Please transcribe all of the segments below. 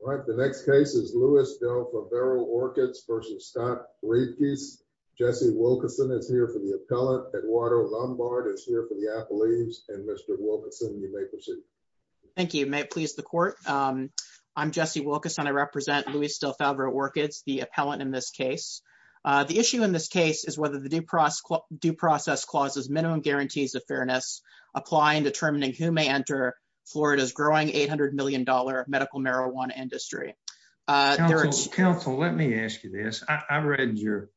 All right, the next case is Louis Del Favero Orchids v. Scott Rivkees. Jesse Wilkerson is here for the appellant. Eduardo Lombard is here for the appellees. And Mr. Wilkerson, you may proceed. Thank you. May it please the court. I'm Jesse Wilkerson. I represent Louis Del Favero Orchids, the appellant in this case. The issue in this case is whether the due process clauses minimum guarantees of fairness apply in determining who may enter Florida's growing $800 million medical marijuana industry. Counsel, let me ask you this. I read your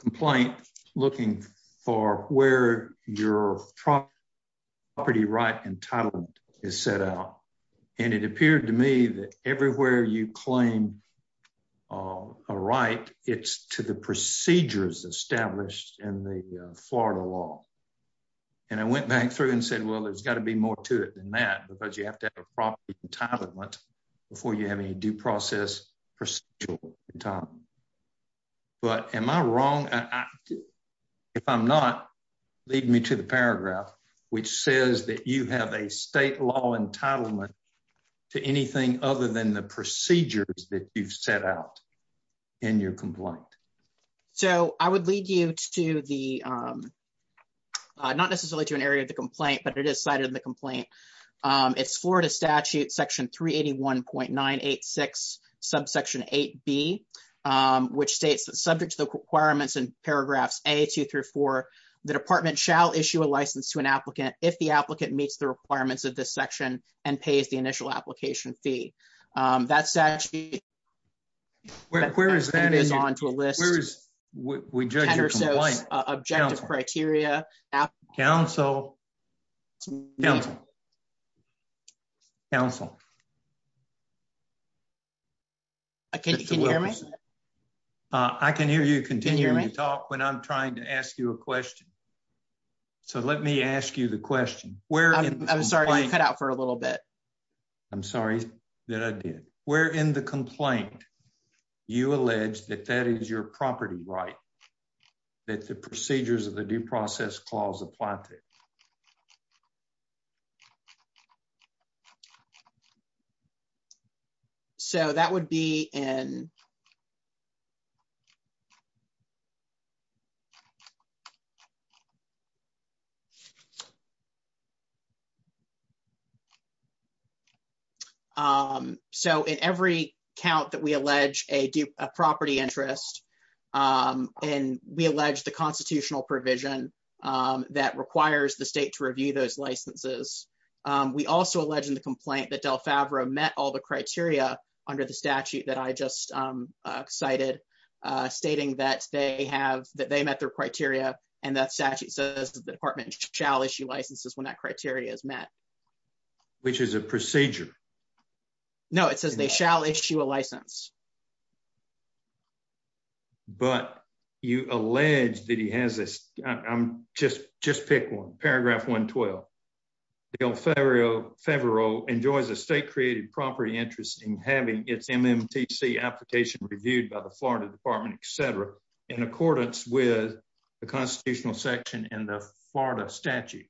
complaint looking for where your property right entitlement is set out. And it appeared to me that everywhere you claim a right, it's to the procedures established in the Florida law. And I went back through and said, well, there's got to be more to it than that, because you have to have a property entitlement before you have any due process procedural entitlement. But am I wrong? If I'm not, lead me to the paragraph, which says that you have a state law entitlement to anything other than the procedures that you've set out in your complaint. So I would lead you to the, not necessarily to an area of the complaint, but it is cited in the complaint. It's Florida statute section 381.986 subsection 8B, which states that subject to the requirements in paragraphs a two through four, the department shall issue a license to an applicant if the applicant meets the requirements of this section and pays the initial application fee. That statute is on to a list of ten or so objective criteria. Counsel? Counsel? Counsel? Can you hear me? I can hear you continue to talk when I'm trying to ask you a question. So let me ask you the question. I'm sorry, you're cut out for a little bit. I'm sorry that I did. Where in the complaint, you allege that that is your property right, that the procedures of the due process clause apply to it? So that would be in. So in every count that we allege a property interest and we allege the constitutional provision that requires the state to review those licenses. We also alleged in the complaint that Del Favreau met all the criteria under the statute that I just cited, stating that they have that they met their criteria and that statute says the department shall issue licenses when that criteria is met. Which is a procedure. No, it says they shall issue a license. But you allege that he has this. I'm just just pick one. Paragraph 112. Del Favreau enjoys a state created property interest in having its MMTC application reviewed by the Florida Department, etc. in accordance with the constitutional section in the Florida statute.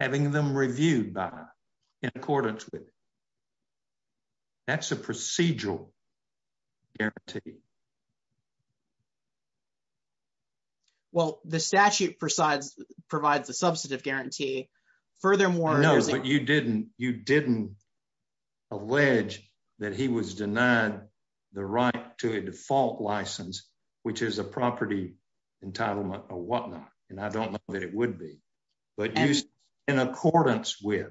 Having them reviewed by in accordance with. That's a procedural guarantee. Well, the statute presides provides a substantive guarantee. Furthermore, No, but you didn't you didn't allege that he was denied the right to a default license, which is a property entitlement or whatnot. And I don't know that it would be, but in accordance with.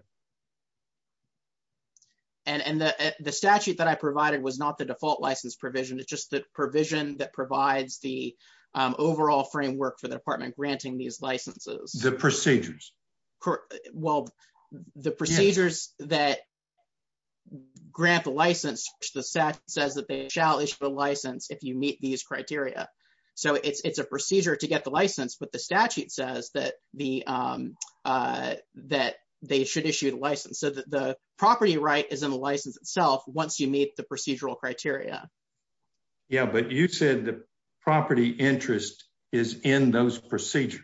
And the statute that I provided was not the default license provision. It's just the provision that provides the overall framework for the department granting these licenses. The procedures. Well, the procedures that grant the license the SEC says that they shall issue a license. If you meet these criteria. So it's it's a procedure to get the license, but the statute says that the That they should issue the license so that the property right is in the license itself. Once you meet the procedural criteria. Yeah, but you said the property interest is in those procedures.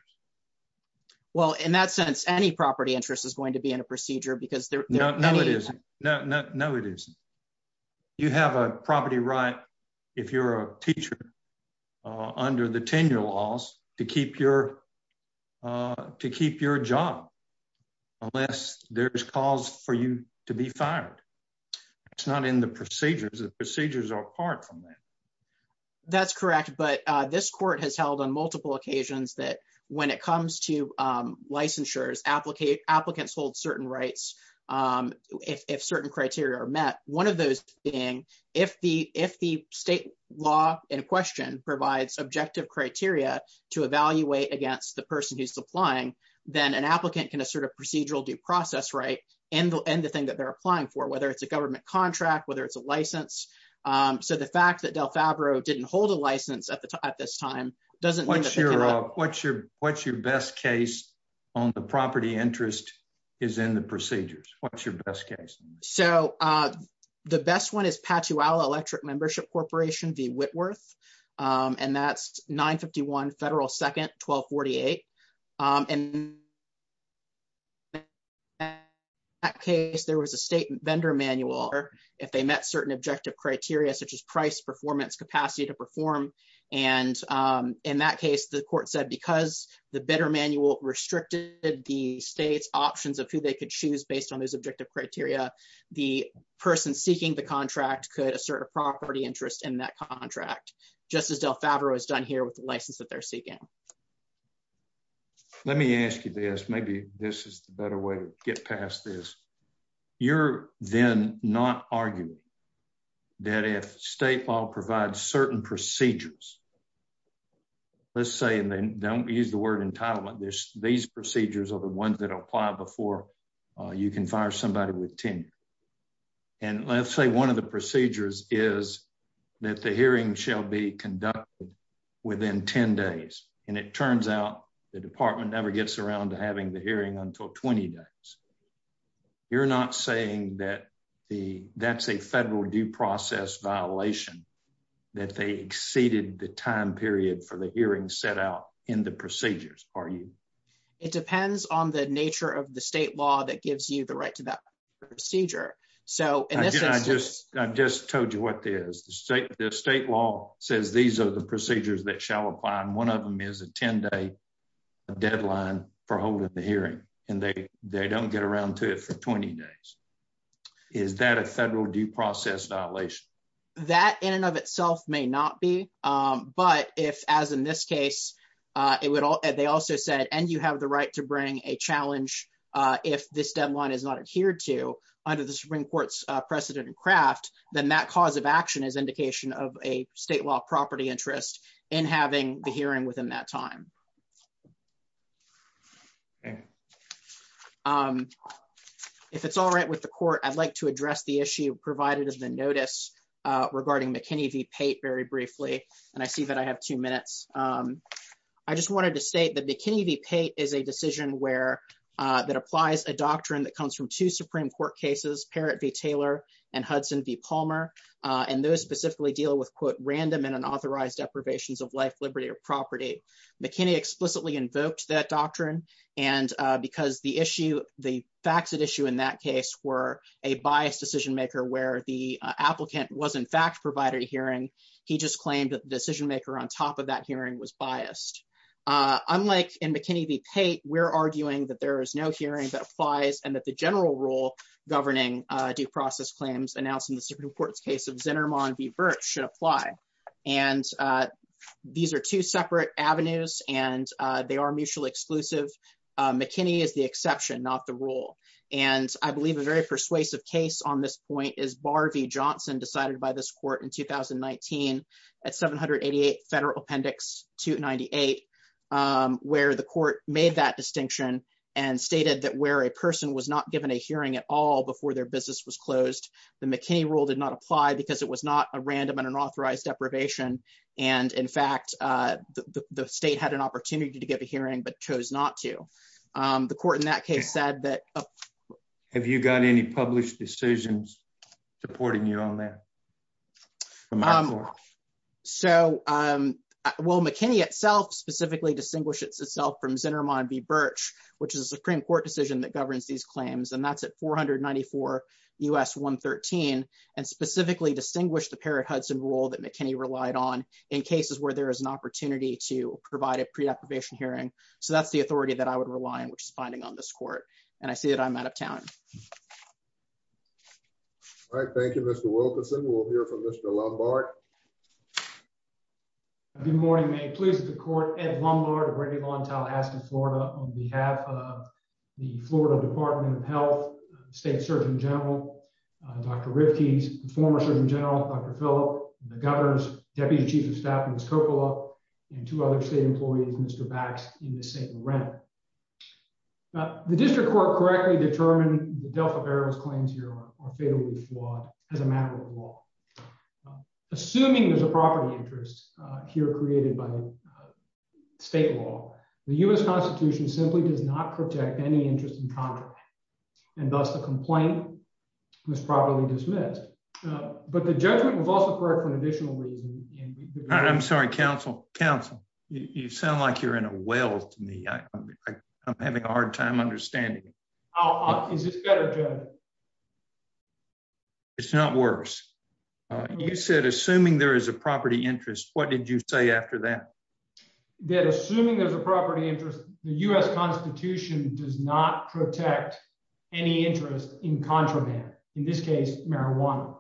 Well, in that sense, any property interest is going to be in a procedure because there No, no, no, no, no, it is. You have a property right. If you're a teacher under the tenure laws to keep your To keep your job, unless there's cause for you to be fired. It's not in the procedures and procedures are apart from that. That's correct. But this court has held on multiple occasions that when it comes to licensures applicate applicants hold certain rights. If certain criteria are met. One of those being if the if the state law in question provides objective criteria to evaluate against the person who's applying Then an applicant can assert a procedural due process right and and the thing that they're applying for, whether it's a government contract, whether it's a license. So the fact that Del Favreau didn't hold a license at the time at this time doesn't What's your, what's your, what's your best case on the property interest is in the procedures. What's your best case. So the best one is Patula electric membership corporation the Whitworth and that's 951 federal second 1248 and At case there was a state vendor manual or if they met certain objective criteria such as price performance capacity to perform and In that case, the court said because the better manual restricted the state's options of who they could choose based on those objective criteria. The person seeking the contract could assert a property interest in that contract, just as Del Favreau is done here with the license that they're seeking Let me ask you this. Maybe this is the better way to get past this you're then not argue that if state law provides certain procedures. Let's say, and then don't use the word entitlement. There's these procedures are the ones that apply before you can fire somebody with 10 And let's say one of the procedures is that the hearing shall be conducted within 10 days and it turns out the department never gets around to having the hearing until 20 days You're not saying that the that's a federal due process violation that they exceeded the time period for the hearing set out in the procedures are you It depends on the nature of the state law that gives you the right to that procedure. So, and I just I just told you what the state, the state law says these are the procedures that shall apply and one of them is a 10 day Deadline for holding the hearing and they they don't get around to it for 20 days. Is that a federal due process violation. That in and of itself may not be. But if, as in this case, it would all they also said, and you have the right to bring a challenge. If this deadline is not adhered to under the Supreme Court's precedent craft, then that cause of action is indication of a state law property interest in having the hearing within that time. And If it's all right with the court. I'd like to address the issue provided has been notice regarding McKinney VP very briefly, and I see that I have two minutes. I just wanted to state that the kidney VP is a decision where that applies a doctrine that comes from to Supreme Court cases parrot v. Taylor and Hudson v. Palmer. And those specifically deal with quote random and unauthorized deprivations of life, liberty or property. McKinney explicitly invoked that doctrine and because the issue. The facts that issue in that case were a biased decision maker, where the applicant was in fact provided hearing He just claimed that the decision maker on top of that hearing was biased. Unlike in McKinney VP, we're arguing that there is no hearing that applies and that the general rule governing due process claims announcing the Supreme Court's case of Zinnerman v. At 788 federal appendix to 98 where the court made that distinction and stated that where a person was not given a hearing at all before their business was closed. The McKinney rule did not apply because it was not a random and unauthorized deprivation. And in fact, the state had an opportunity to give a hearing but chose not to the court in that case said that Have you got any published decisions supporting you on that. So, um, well McKinney itself specifically distinguish itself from Zinnerman v. Birch, which is a Supreme Court decision that governs these claims and that's at 494 US 113 and specifically distinguish the parrot Hudson rule that McKinney relied on in cases where there is an opportunity to provide a pre deprivation hearing. So that's the authority that I would rely on which is finding on this court, and I see that I'm out of town. Thank you, Mr Wilkinson will hear from Mr Lombard. Good morning may please the court at Lombard ready on Tallahassee, Florida, on behalf of the Florida Department of Health State Surgeon General. Dr. Ricky's former Surgeon General Dr. Philip, the governor's deputy chief of staff, Miss Coppola and two other state employees Mr backs in the same rent. The district court correctly determine the Delta bears claims here are fatally flawed as a matter of law. Assuming there's a property interest here created by state law, the US Constitution simply does not protect any interest in contract and thus the complaint was probably dismissed, but the judgment was also correct for an additional reason. I'm sorry Council Council, you sound like you're in a well to me. I'm having a hard time understanding. It's not worse. You said assuming there is a property interest, what did you say after that, that assuming there's a property interest, the US Constitution does not protect any interest in contraband. In this case, marijuana.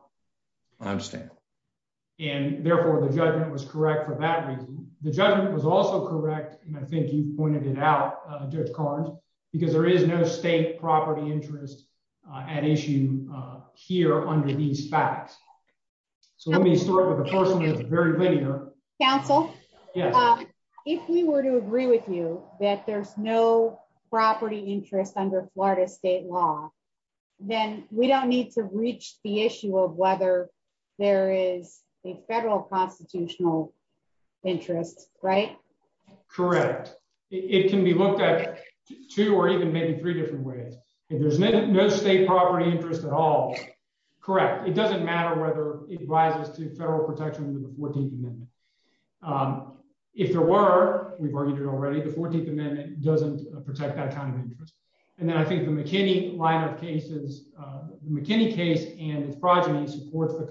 I understand. And therefore the judgment was correct for that reason. The judgment was also correct, and I think you pointed it out, do cards, because there is no state property interest at issue here under these facts. So let me start with a person who's very linear Council. If we were to agree with you that there's no property interest under Florida state law, then we don't need to reach the issue of whether there is a federal constitutional interest, right, correct. It can be looked at two or even maybe three different ways. If there's no state property interest at all. Correct. It doesn't matter whether it rises to federal protection with the 14th Amendment. If there were, we've argued it already the 14th Amendment doesn't protect that kind of interest. And then I think the McKinney line of cases, McKinney case and its progeny supports the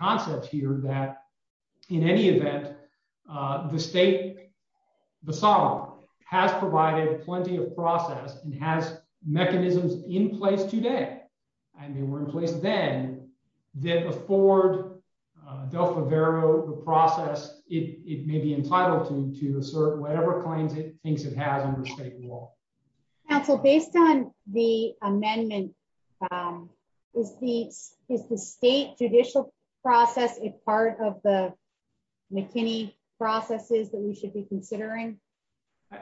concept here that in any event, the state. The song has provided plenty of process and has mechanisms in place today. I mean we're in place, then, then afford del Favaro the process, it may be entitled to to assert whatever claims it thinks it has under state law. So based on the amendment is the is the state judicial process is part of the McKinney processes that we should be considering.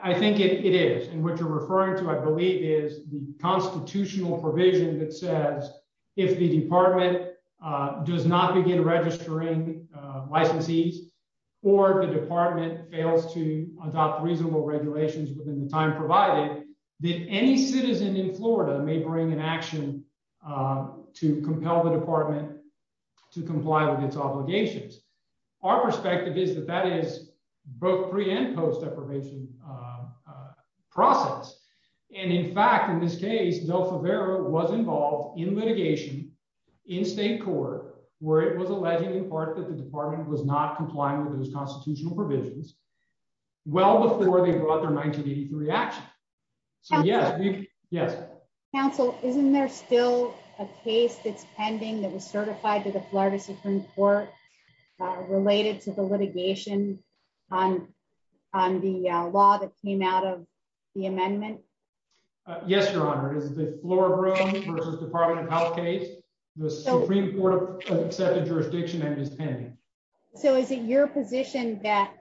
I think it is and what you're referring to I believe is the constitutional provision that says, if the department does not begin registering licensees, or the department fails to adopt reasonable regulations within the time provided that any citizen in Florida may bring an action to compel the department to comply with its obligations. Our perspective is that that is both pre and post deprivation process. And in fact in this case no favor was involved in litigation in state court, where it was alleged in part that the department was not complying with those constitutional provisions. Well before they brought their 1983 action. Yes. Yes. Counsel, isn't there still a case that's pending that was certified to the Florida Supreme Court, related to the litigation on on the law that came out of the amendment. Yes, Your Honor is the floor. Department of Health case was accepted jurisdiction and is pending. So is it your position that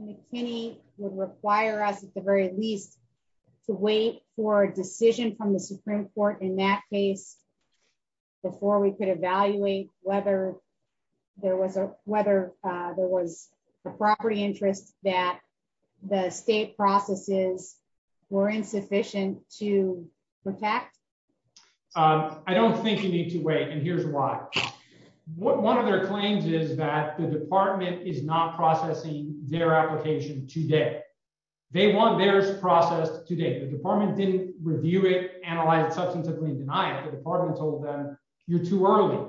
McKinney would require us at the very least to wait for a decision from the Supreme Court in that case. Before we can evaluate whether there was a, whether there was a property interest that the state processes were insufficient to protect. I don't think you need to wait and here's why. What one of their claims is that the department is not processing their application today. They want their process today the department didn't review it analyzed substantively denied the department told them, you're too early.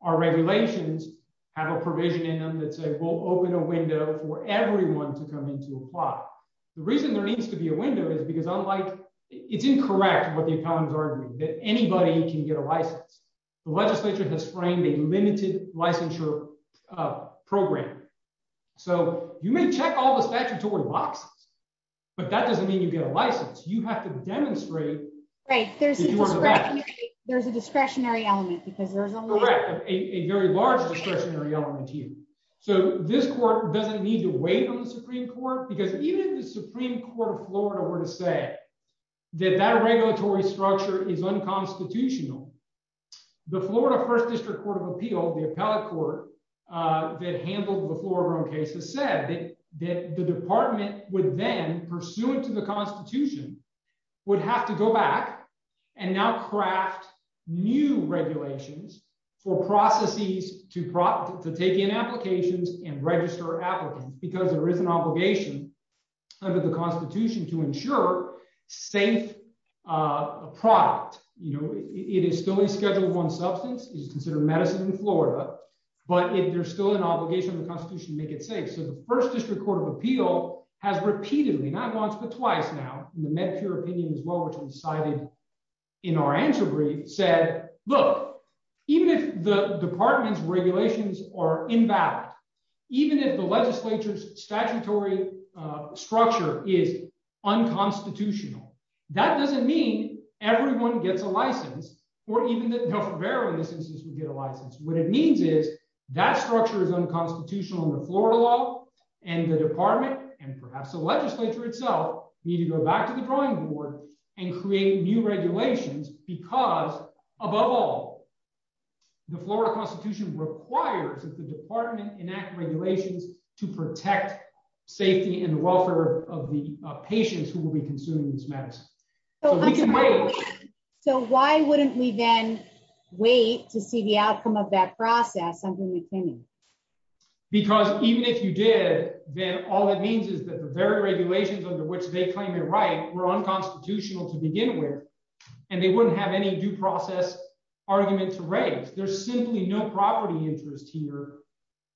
Our regulations have a provision in them that say we'll open a window for everyone to come into apply. The reason there needs to be a window is because I'm like, it's incorrect with the economy that anybody can get a license. The legislature has framed a limited licensure program. So, you may check all the statutory boxes. But that doesn't mean you get a license, you have to demonstrate, right, there's, there's a discretionary element because there's a very large discretionary element to you. So, this court doesn't need to wait on the Supreme Court because even the Supreme Court of Florida were to say that that regulatory structure is unconstitutional. The Florida First District Court of Appeal the appellate court that handled the floorroom cases said that the department would then pursuant to the Constitution would have to go back and now craft new regulations for processes to prop to take in applications and register applicants because there is an obligation under the Constitution to ensure safe product, you know, it is still a schedule one substance is considered medicine in Florida. But if there's still an obligation of the Constitution make it safe so the First District Court of Appeal has repeatedly not once but twice now, the Medicare opinion as well which was cited in our answer brief said, look, even if the department's regulations are invalid. Even if the legislature's statutory structure is unconstitutional. That doesn't mean everyone gets a license, or even the various instances we get a license, what it means is that structure is unconstitutional in the Florida law and the department and perhaps the legislature itself need to go back to the drawing board and create new regulations, because, above all, the Florida Constitution requires that the department enact regulations to protect safety and welfare of the patients who will be consuming this medicine. So why wouldn't we then wait to see the outcome of that process under McKinney. Because even if you did, then all it means is that the very regulations under which they claim it right were unconstitutional to begin with, and they wouldn't have any due process argument to raise there's simply no property interest here.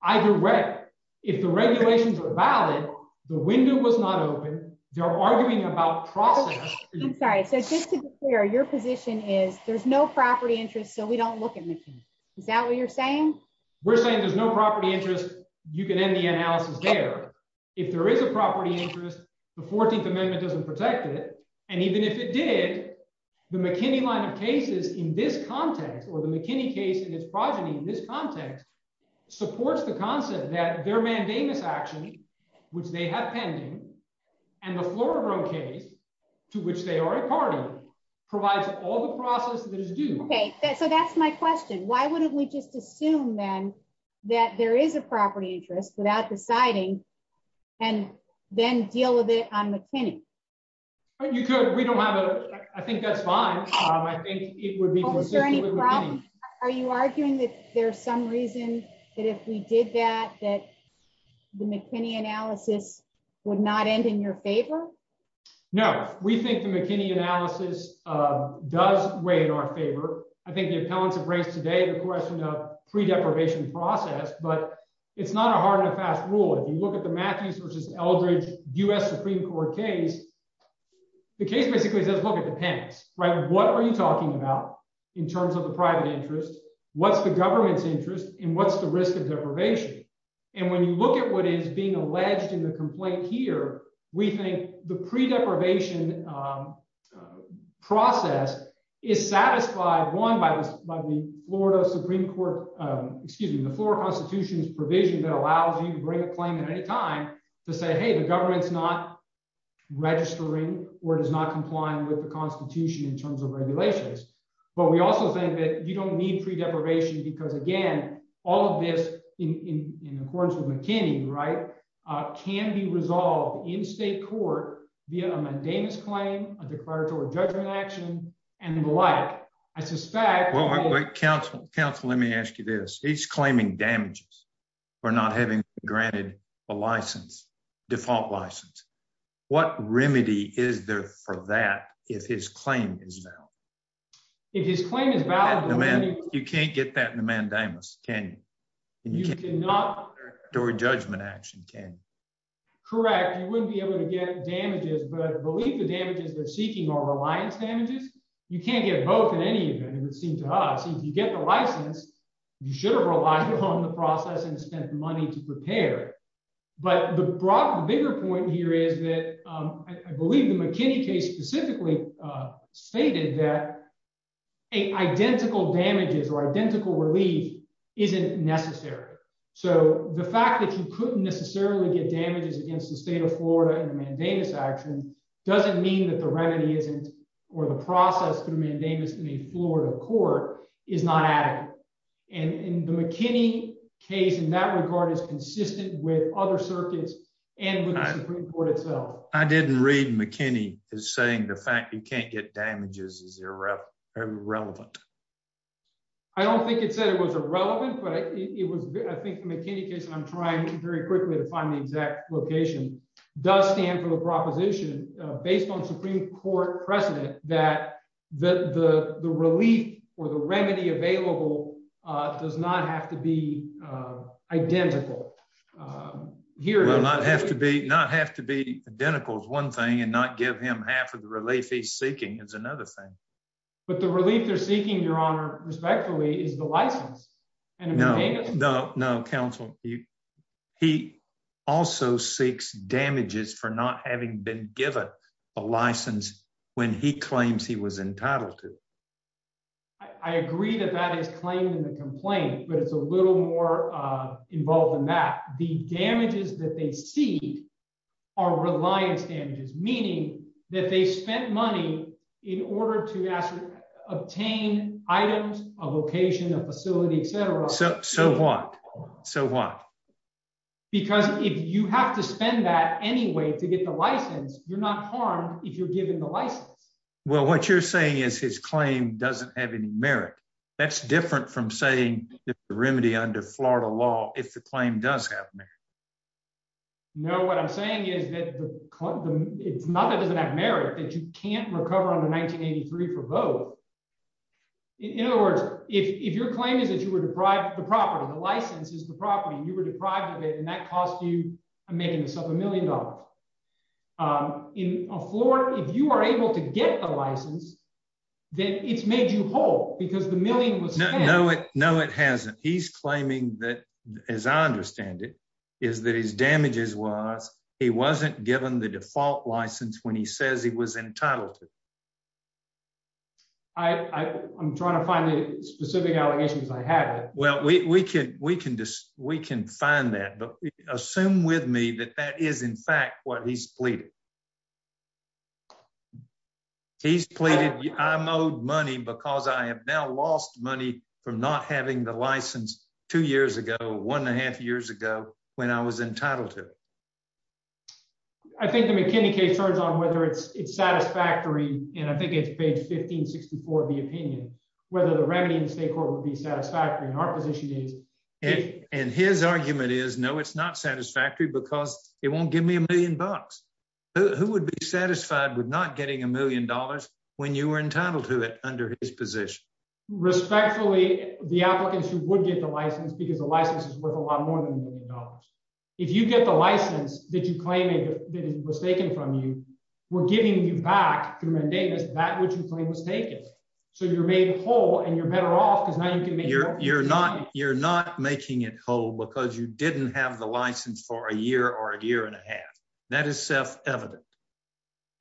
Either way, if the regulations are valid. The window was not open, they're arguing about process. I'm sorry so just to be clear, your position is there's no property interest so we don't look at McKinney. Is that what you're saying, we're saying there's no property interest, you can end the analysis there. If there is a property interest, the 14th Amendment doesn't protect it. And even if it did the McKinney line of cases in this context or the McKinney case and his progeny in this context supports the concept that their mandamus action, which they have pending, and the floor room case to which they are a party provides Okay, so that's my question, why wouldn't we just assume then that there is a property interest without deciding, and then deal with it on McKinney. You could we don't have a, I think that's fine. I think it would be. Are you arguing that there's some reason that if we did that that the McKinney analysis would not end in your favor. No, we think the McKinney analysis does way in our favor. I think the appellants of race today the question of pre deprivation process but it's not a hard and fast rule if you look at the Matthews versus Eldridge US Supreme Court case. The case basically says look at the pants right what are you talking about in terms of the private interest. What's the government's interest in what's the risk of deprivation. And when you look at what is being alleged in the complaint here, we think the pre deprivation process is satisfied one by by the Florida Supreme Court. Excuse me, the floor constitutions provision that allows you to bring a claim at any time to say hey the government's not registering, or does not comply with the Constitution in terms of regulations, but we also think that you don't need pre deprivation because again, all of this in accordance with McKinney right can be resolved in state court via a mundane is claim a declaratory judgment action, and the like. I suspect Council Council let me ask you this, he's claiming damages for not having granted a license default license. What remedy is there for that, if his claim is now. You can't get that in the mandamus can you cannot do a judgment action can correct you wouldn't be able to get damages but believe the damages they're seeking or reliance damages. You can't get both in any event, it would seem to us if you get the license. You should have relied on the process and spent money to prepare. But the broader bigger point here is that I believe the McKinney case specifically stated that a identical damages or identical relief isn't necessary. So, the fact that you couldn't necessarily get damages against the state of Florida and mandamus action doesn't mean that the remedy isn't, or the process to mandamus in a Florida court is not added. And the McKinney case in that regard is consistent with other circuits and the Supreme Court itself. I didn't read McKinney is saying the fact you can't get damages is irrelevant. I don't think it said it was irrelevant, but it was, I think, McKinney case and I'm trying to very quickly to find the exact location does stand for the proposition, based on Supreme Court precedent that the relief, or the remedy available does not have to be identical. Here, not have to be not have to be identical is one thing and not give him half of the relief he's seeking is another thing, but the relief they're seeking your honor respectfully is the license. And no, no, no counsel. He also seeks damages for not having been given a license. When he claims he was entitled to. I agree that that is claimed in the complaint, but it's a little more involved in that the damages that they see our reliance damages, meaning that they spent money in order to obtain items of occasion of facility, etc. So, so what. So what, because if you have to spend that anyway to get the license, you're not harmed if you're given the license. Well, what you're saying is his claim doesn't have any merit. That's different from saying the remedy under Florida law, if the claim does happen. No, what I'm saying is that it's not that doesn't have merit that you can't recover on the 1983 for both. In other words, if your claim is that you were deprived the property the license is the property you were deprived of it and that cost you a making yourself a million dollars in a floor, if you are able to get a license that it's made you whole, because the I, I'm trying to find the specific allegations I had. Well, we can we can just, we can find that but assume with me that that is in fact what he's pleaded. He's pleaded I'm owed money because I have now lost money from not having the license, two years ago, one and a half years ago, when I was entitled to. I think the McKinney case turns on whether it's it's satisfactory, and I think it's page 1564 of the opinion, whether the remedy in the state court would be satisfactory in our position is it and his argument is no it's not satisfactory because it won't give me a million bucks, who would be satisfied with not getting a million dollars. When you were entitled to it under his position, respectfully, the applicants who would get the license because the license is worth a lot more than a million dollars. If you get the license that you claim it was taken from you. We're giving you back through my data is that what you claim was taken. So you're made whole and you're better off because now you can make your, you're not, you're not making it whole because you didn't have the license for a year or a year and a half. That is self evident.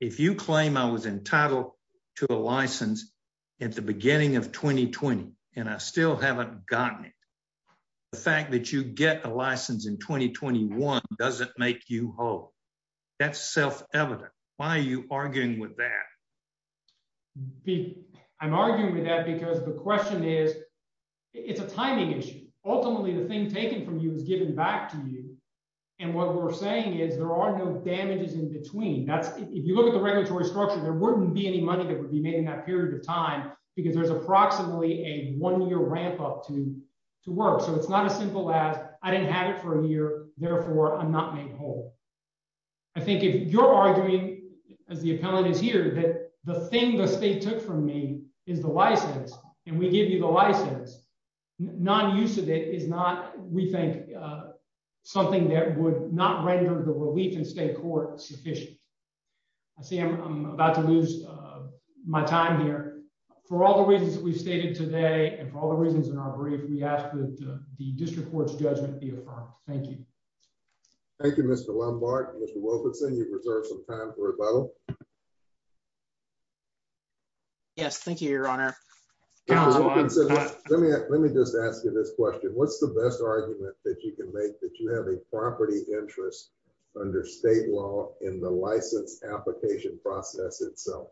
If you claim I was entitled to a license at the beginning of 2020, and I still haven't gotten it. The fact that you get a license in 2021 doesn't make you whole. That's self evident. Why are you arguing with that. I'm arguing with that because the question is, it's a timing issue. Ultimately, the thing taken from you is given back to you. And what we're saying is there are no damages in between that's if you look at the regulatory structure there wouldn't be any money that would be made in that period of time, because there's approximately a one year ramp up to to work so it's not as for me is the license, and we give you the license, non use of it is not, we think, something that would not render the relief and state court sufficient. I see I'm about to lose my time here. For all the reasons we've stated today and for all the reasons in our brief we asked the district courts judgment. Thank you. Thank you Mr Lombard Mr Wilkinson you reserve some time for a bottle. Yes, thank you, Your Honor. Let me just ask you this question what's the best argument that you can make that you have a property interest under state law in the license application process itself.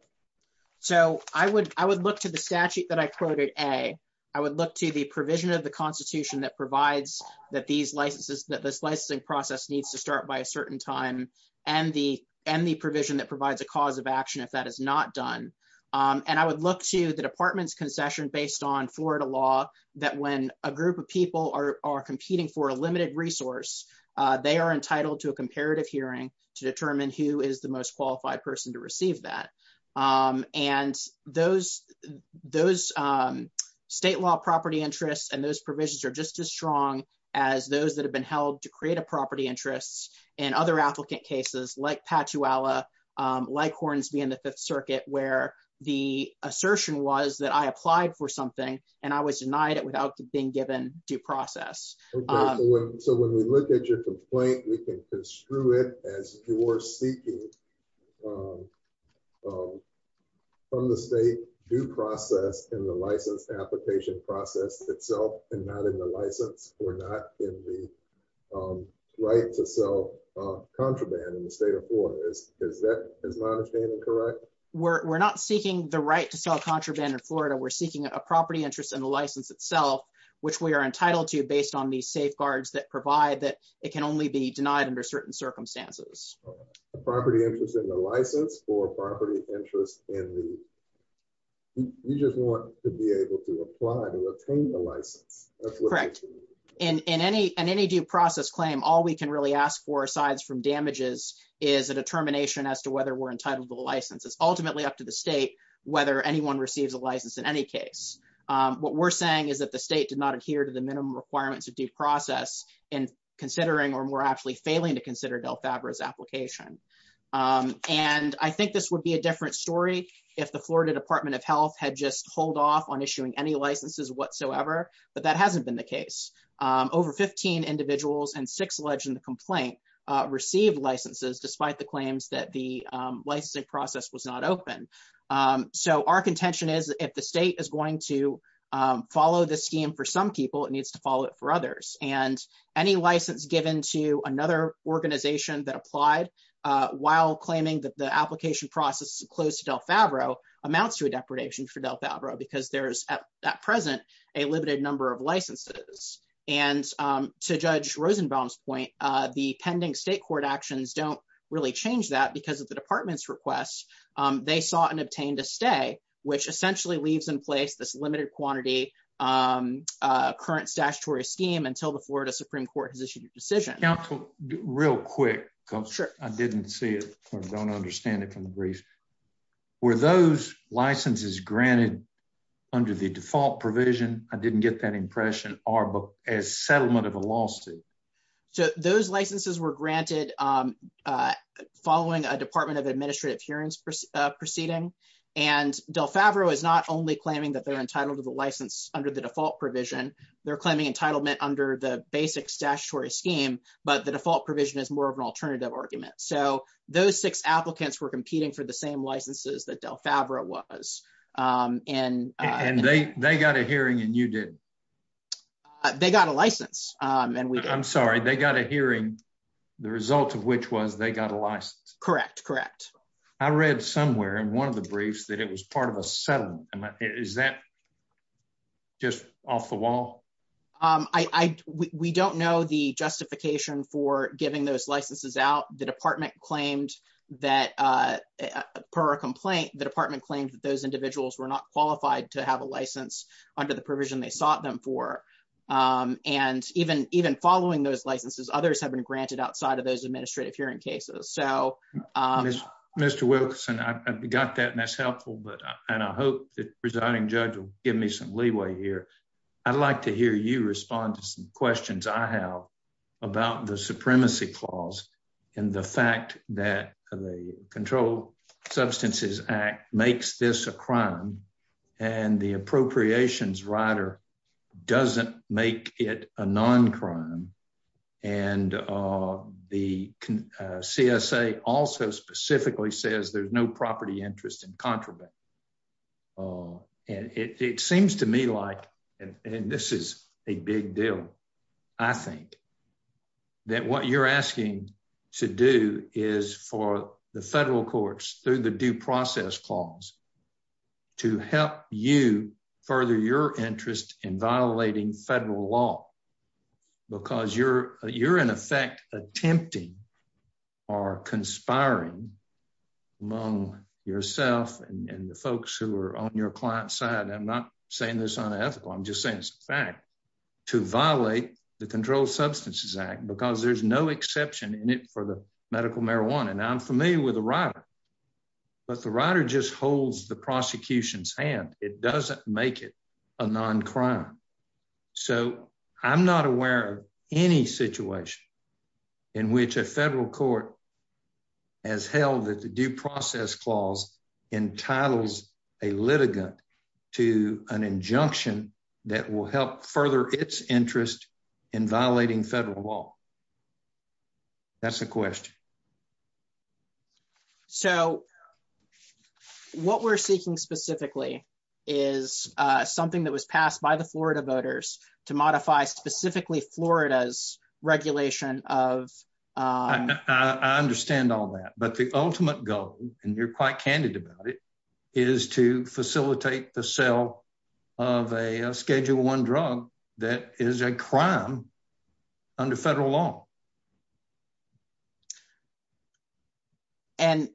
So, I would, I would look to the statute that I quoted a, I would look to the provision of the Constitution that provides that these licenses that this licensing process needs to start by a certain time, and the, and the provision that provides a cause of action if that is not done. And I would look to the department's concession based on Florida law that when a group of people are competing for a limited resource. They are entitled to a comparative hearing to determine who is the most qualified person to receive that. And those, those state law property interests and those provisions are just as strong as those that have been held to create a property interests and other applicant cases like patchy Allah like horns me in the Fifth Circuit where the assertion was that I applied for something, and I was denied it without being given due process. So when we look at your complaint, we can construe it as you're seeking on the state due process in the license application process itself, and not in the license, or not in the right to sell contraband in the state of Florida is, is that is my understanding correct, we're not seeking the right to sell contraband in Florida we're entitled to based on the safeguards that provide that it can only be denied under certain circumstances, property interests in the license for property interest in the, you just want to be able to apply to obtain the license. Correct. In any, any due process claim all we can really ask for asides from damages is a determination as to whether we're entitled to the licenses ultimately up to the state, whether anyone receives a license in any case. What we're saying is that the state did not adhere to the minimum requirements of due process and considering or more actually failing to consider Del Fabra his application. And I think this would be a different story. If the Florida Department of Health had just hold off on issuing any licenses whatsoever, but that hasn't been the case. Over 15 individuals and six legend the complaint received licenses despite the claims that the licensing process was not open. So our contention is if the state is going to follow the scheme for some people it needs to follow it for others, and any license given to another organization that applied. While claiming that the application process close to Del Favreau amounts to a depredation for Del Favreau because there's at present a limited number of licenses and to judge Rosenbaum's point, the pending state court actions don't really change that because of the I didn't see it, or don't understand it from the briefs were those licenses granted under the default provision, I didn't get that impression, or book as settlement of a lawsuit. So those licenses were granted. Following a department of administrative hearings proceeding and Del Favreau is not only claiming that they're entitled to the license under the default provision, they're claiming entitlement under the basic statutory scheme, but the default provision is more of an alternative argument so those six applicants were competing for the same licenses that Del Favreau was in, and they, they got a hearing and you did. They got a license, and we I'm sorry they got a hearing. The result of which was they got a license. Correct, correct. I read somewhere in one of the briefs that it was part of a settlement. Is that just off the wall. I, we don't know the justification for giving those licenses out the department claimed that per complaint, the department claims that those individuals were not qualified to have a license under the provision they sought them for. And even, even following those licenses others have been granted outside of those administrative hearing cases so Mr Wilson I got that and that's helpful but, and I hope that residing judge will give me some leeway here. I'd like to hear you respond to some questions I have about the supremacy clause, and the fact that the control substances act makes this a crime, and the appropriations writer doesn't make it a non crime. And the CSA also specifically says there's no property interest in contraband. And it seems to me like, and this is a big deal. I think that what you're asking to do is for the federal courts through the due process clause to help you further your interest in violating federal law, because you're, you're in effect, attempting are conspiring among yourself and the folks who are on your client side I'm not saying this unethical I'm just saying it's a fact to violate the control substances act because there's no exception in it for the medical marijuana and I'm familiar with the writer, but the writer just holds the prosecution's hand, it doesn't make it a non crime. So, I'm not aware of any situation in which a federal court has held that the due process clause entitles a litigant to an injunction that will help further its interest in violating federal law. That's a question. So, what we're seeking specifically is something that was passed by the Florida voters to modify specifically Florida's regulation of. I understand all that, but the ultimate goal, and you're quite candid about it is to facilitate the sale of a schedule one drug that is a crime under federal law. And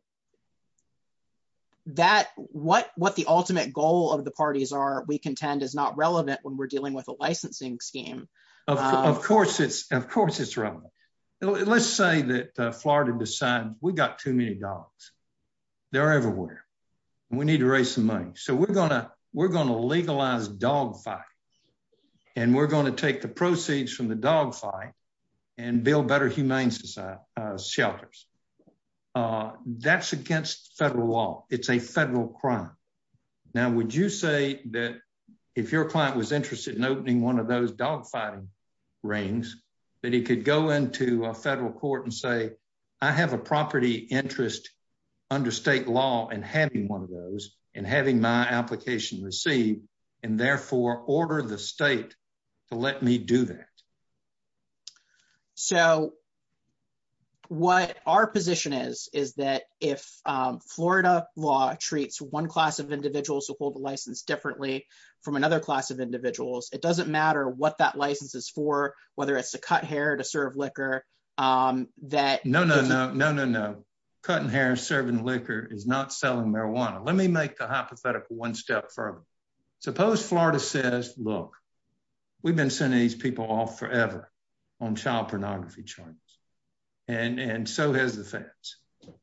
that what what the ultimate goal of the parties are we contend is not relevant when we're dealing with a licensing scheme. Of course it's, of course it's wrong. Let's say that Florida besides we got too many dogs. They're everywhere. We need to raise some money so we're gonna we're going to legalize dog fight. And we're going to take the proceeds from the dog fight and build better humane society shelters. That's against federal law, it's a federal crime. Now would you say that if your client was interested in opening one of those dog fighting rings, that he could go into a federal court and say, I have a property interest under state law and having one of those, and having my application received, and therefore order the state to let me do that. So, what our position is, is that if Florida law treats one class of individuals who hold the license differently from another class of individuals, it doesn't matter what that license is for, whether it's to cut hair to serve liquor. That no no no no no no cutting hair serving liquor is not selling marijuana, let me make the hypothetical one step further. Suppose Florida says, Look, we've been sending these people off forever on child pornography charges. And and so has the fence,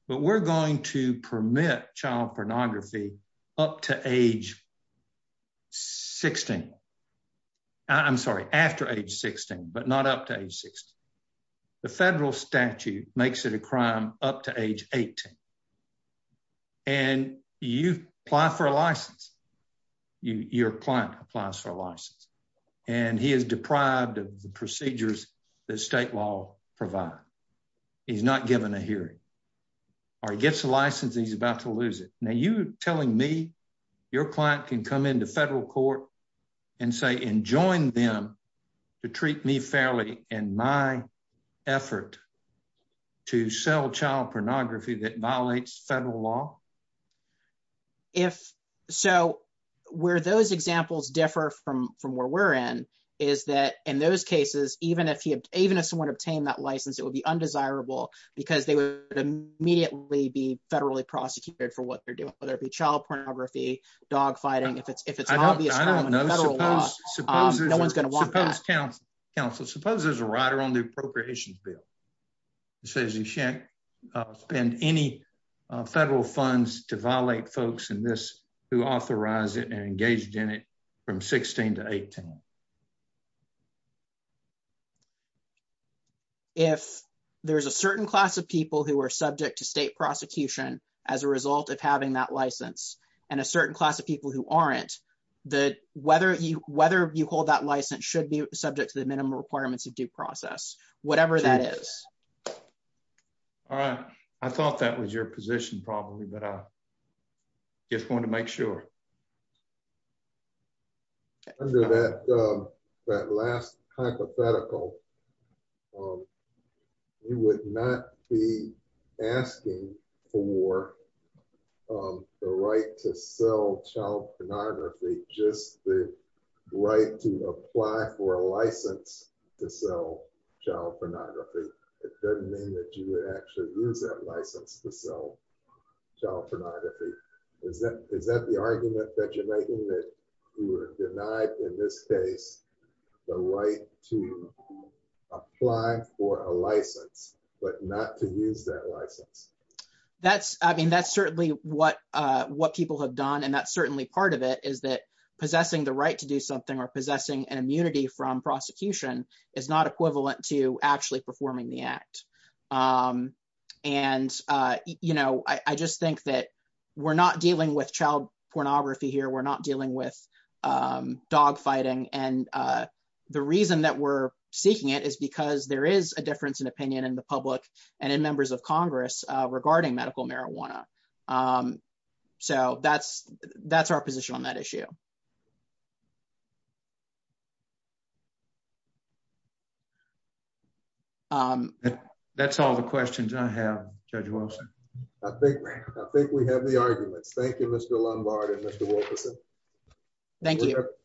but we're going to permit child pornography, up to age. 16. I'm sorry, after age 16 but not up to age 16. The federal statute makes it a crime, up to age, 18. And you apply for a license. Your client applies for a license, and he is deprived of the procedures that state law, provide. He's not given a hearing. Or he gets a license he's about to lose it. Now you telling me your client can come into federal court and say and join them to treat me fairly in my effort to sell child pornography that violates federal law. If so, where those examples differ from from where we're in, is that in those cases, even if you even if someone obtained that license, it would be undesirable, because they would immediately be federally prosecuted for what they're doing, whether it be child to violate folks in this who authorize it and engaged in it from 16 to 18. If there's a certain class of people who are subject to state prosecution. As a result of having that license, and a certain class of people who aren't that whether you whether you hold that license should be subject to the minimum requirements of due process, whatever that is. All right. I thought that was your position probably but I just want to make sure that that last hypothetical. You would not be asking for the right to sell child pornography, just the right to apply for a license to sell child pornography. It doesn't mean that you would actually use that license to sell child pornography. Is that, is that the argument that you're making that you were denied in this case, the right to apply for a license, but not to use that license. That's, I mean that's certainly what what people have done and that's certainly part of it is that possessing the right to do something or possessing an immunity from prosecution is not equivalent to actually performing the act. And, you know, I just think that we're not dealing with child pornography here we're not dealing with dogfighting and the reason that we're seeking it is because there is a difference in opinion in the public and in members of Congress regarding medical marijuana. So that's, that's our position on that issue. Thank you. That's all the questions I have, Judge Wilson. I think, I think we have the arguments. Thank you, Mr. Lombard and Mr. Wolferson. Thank you.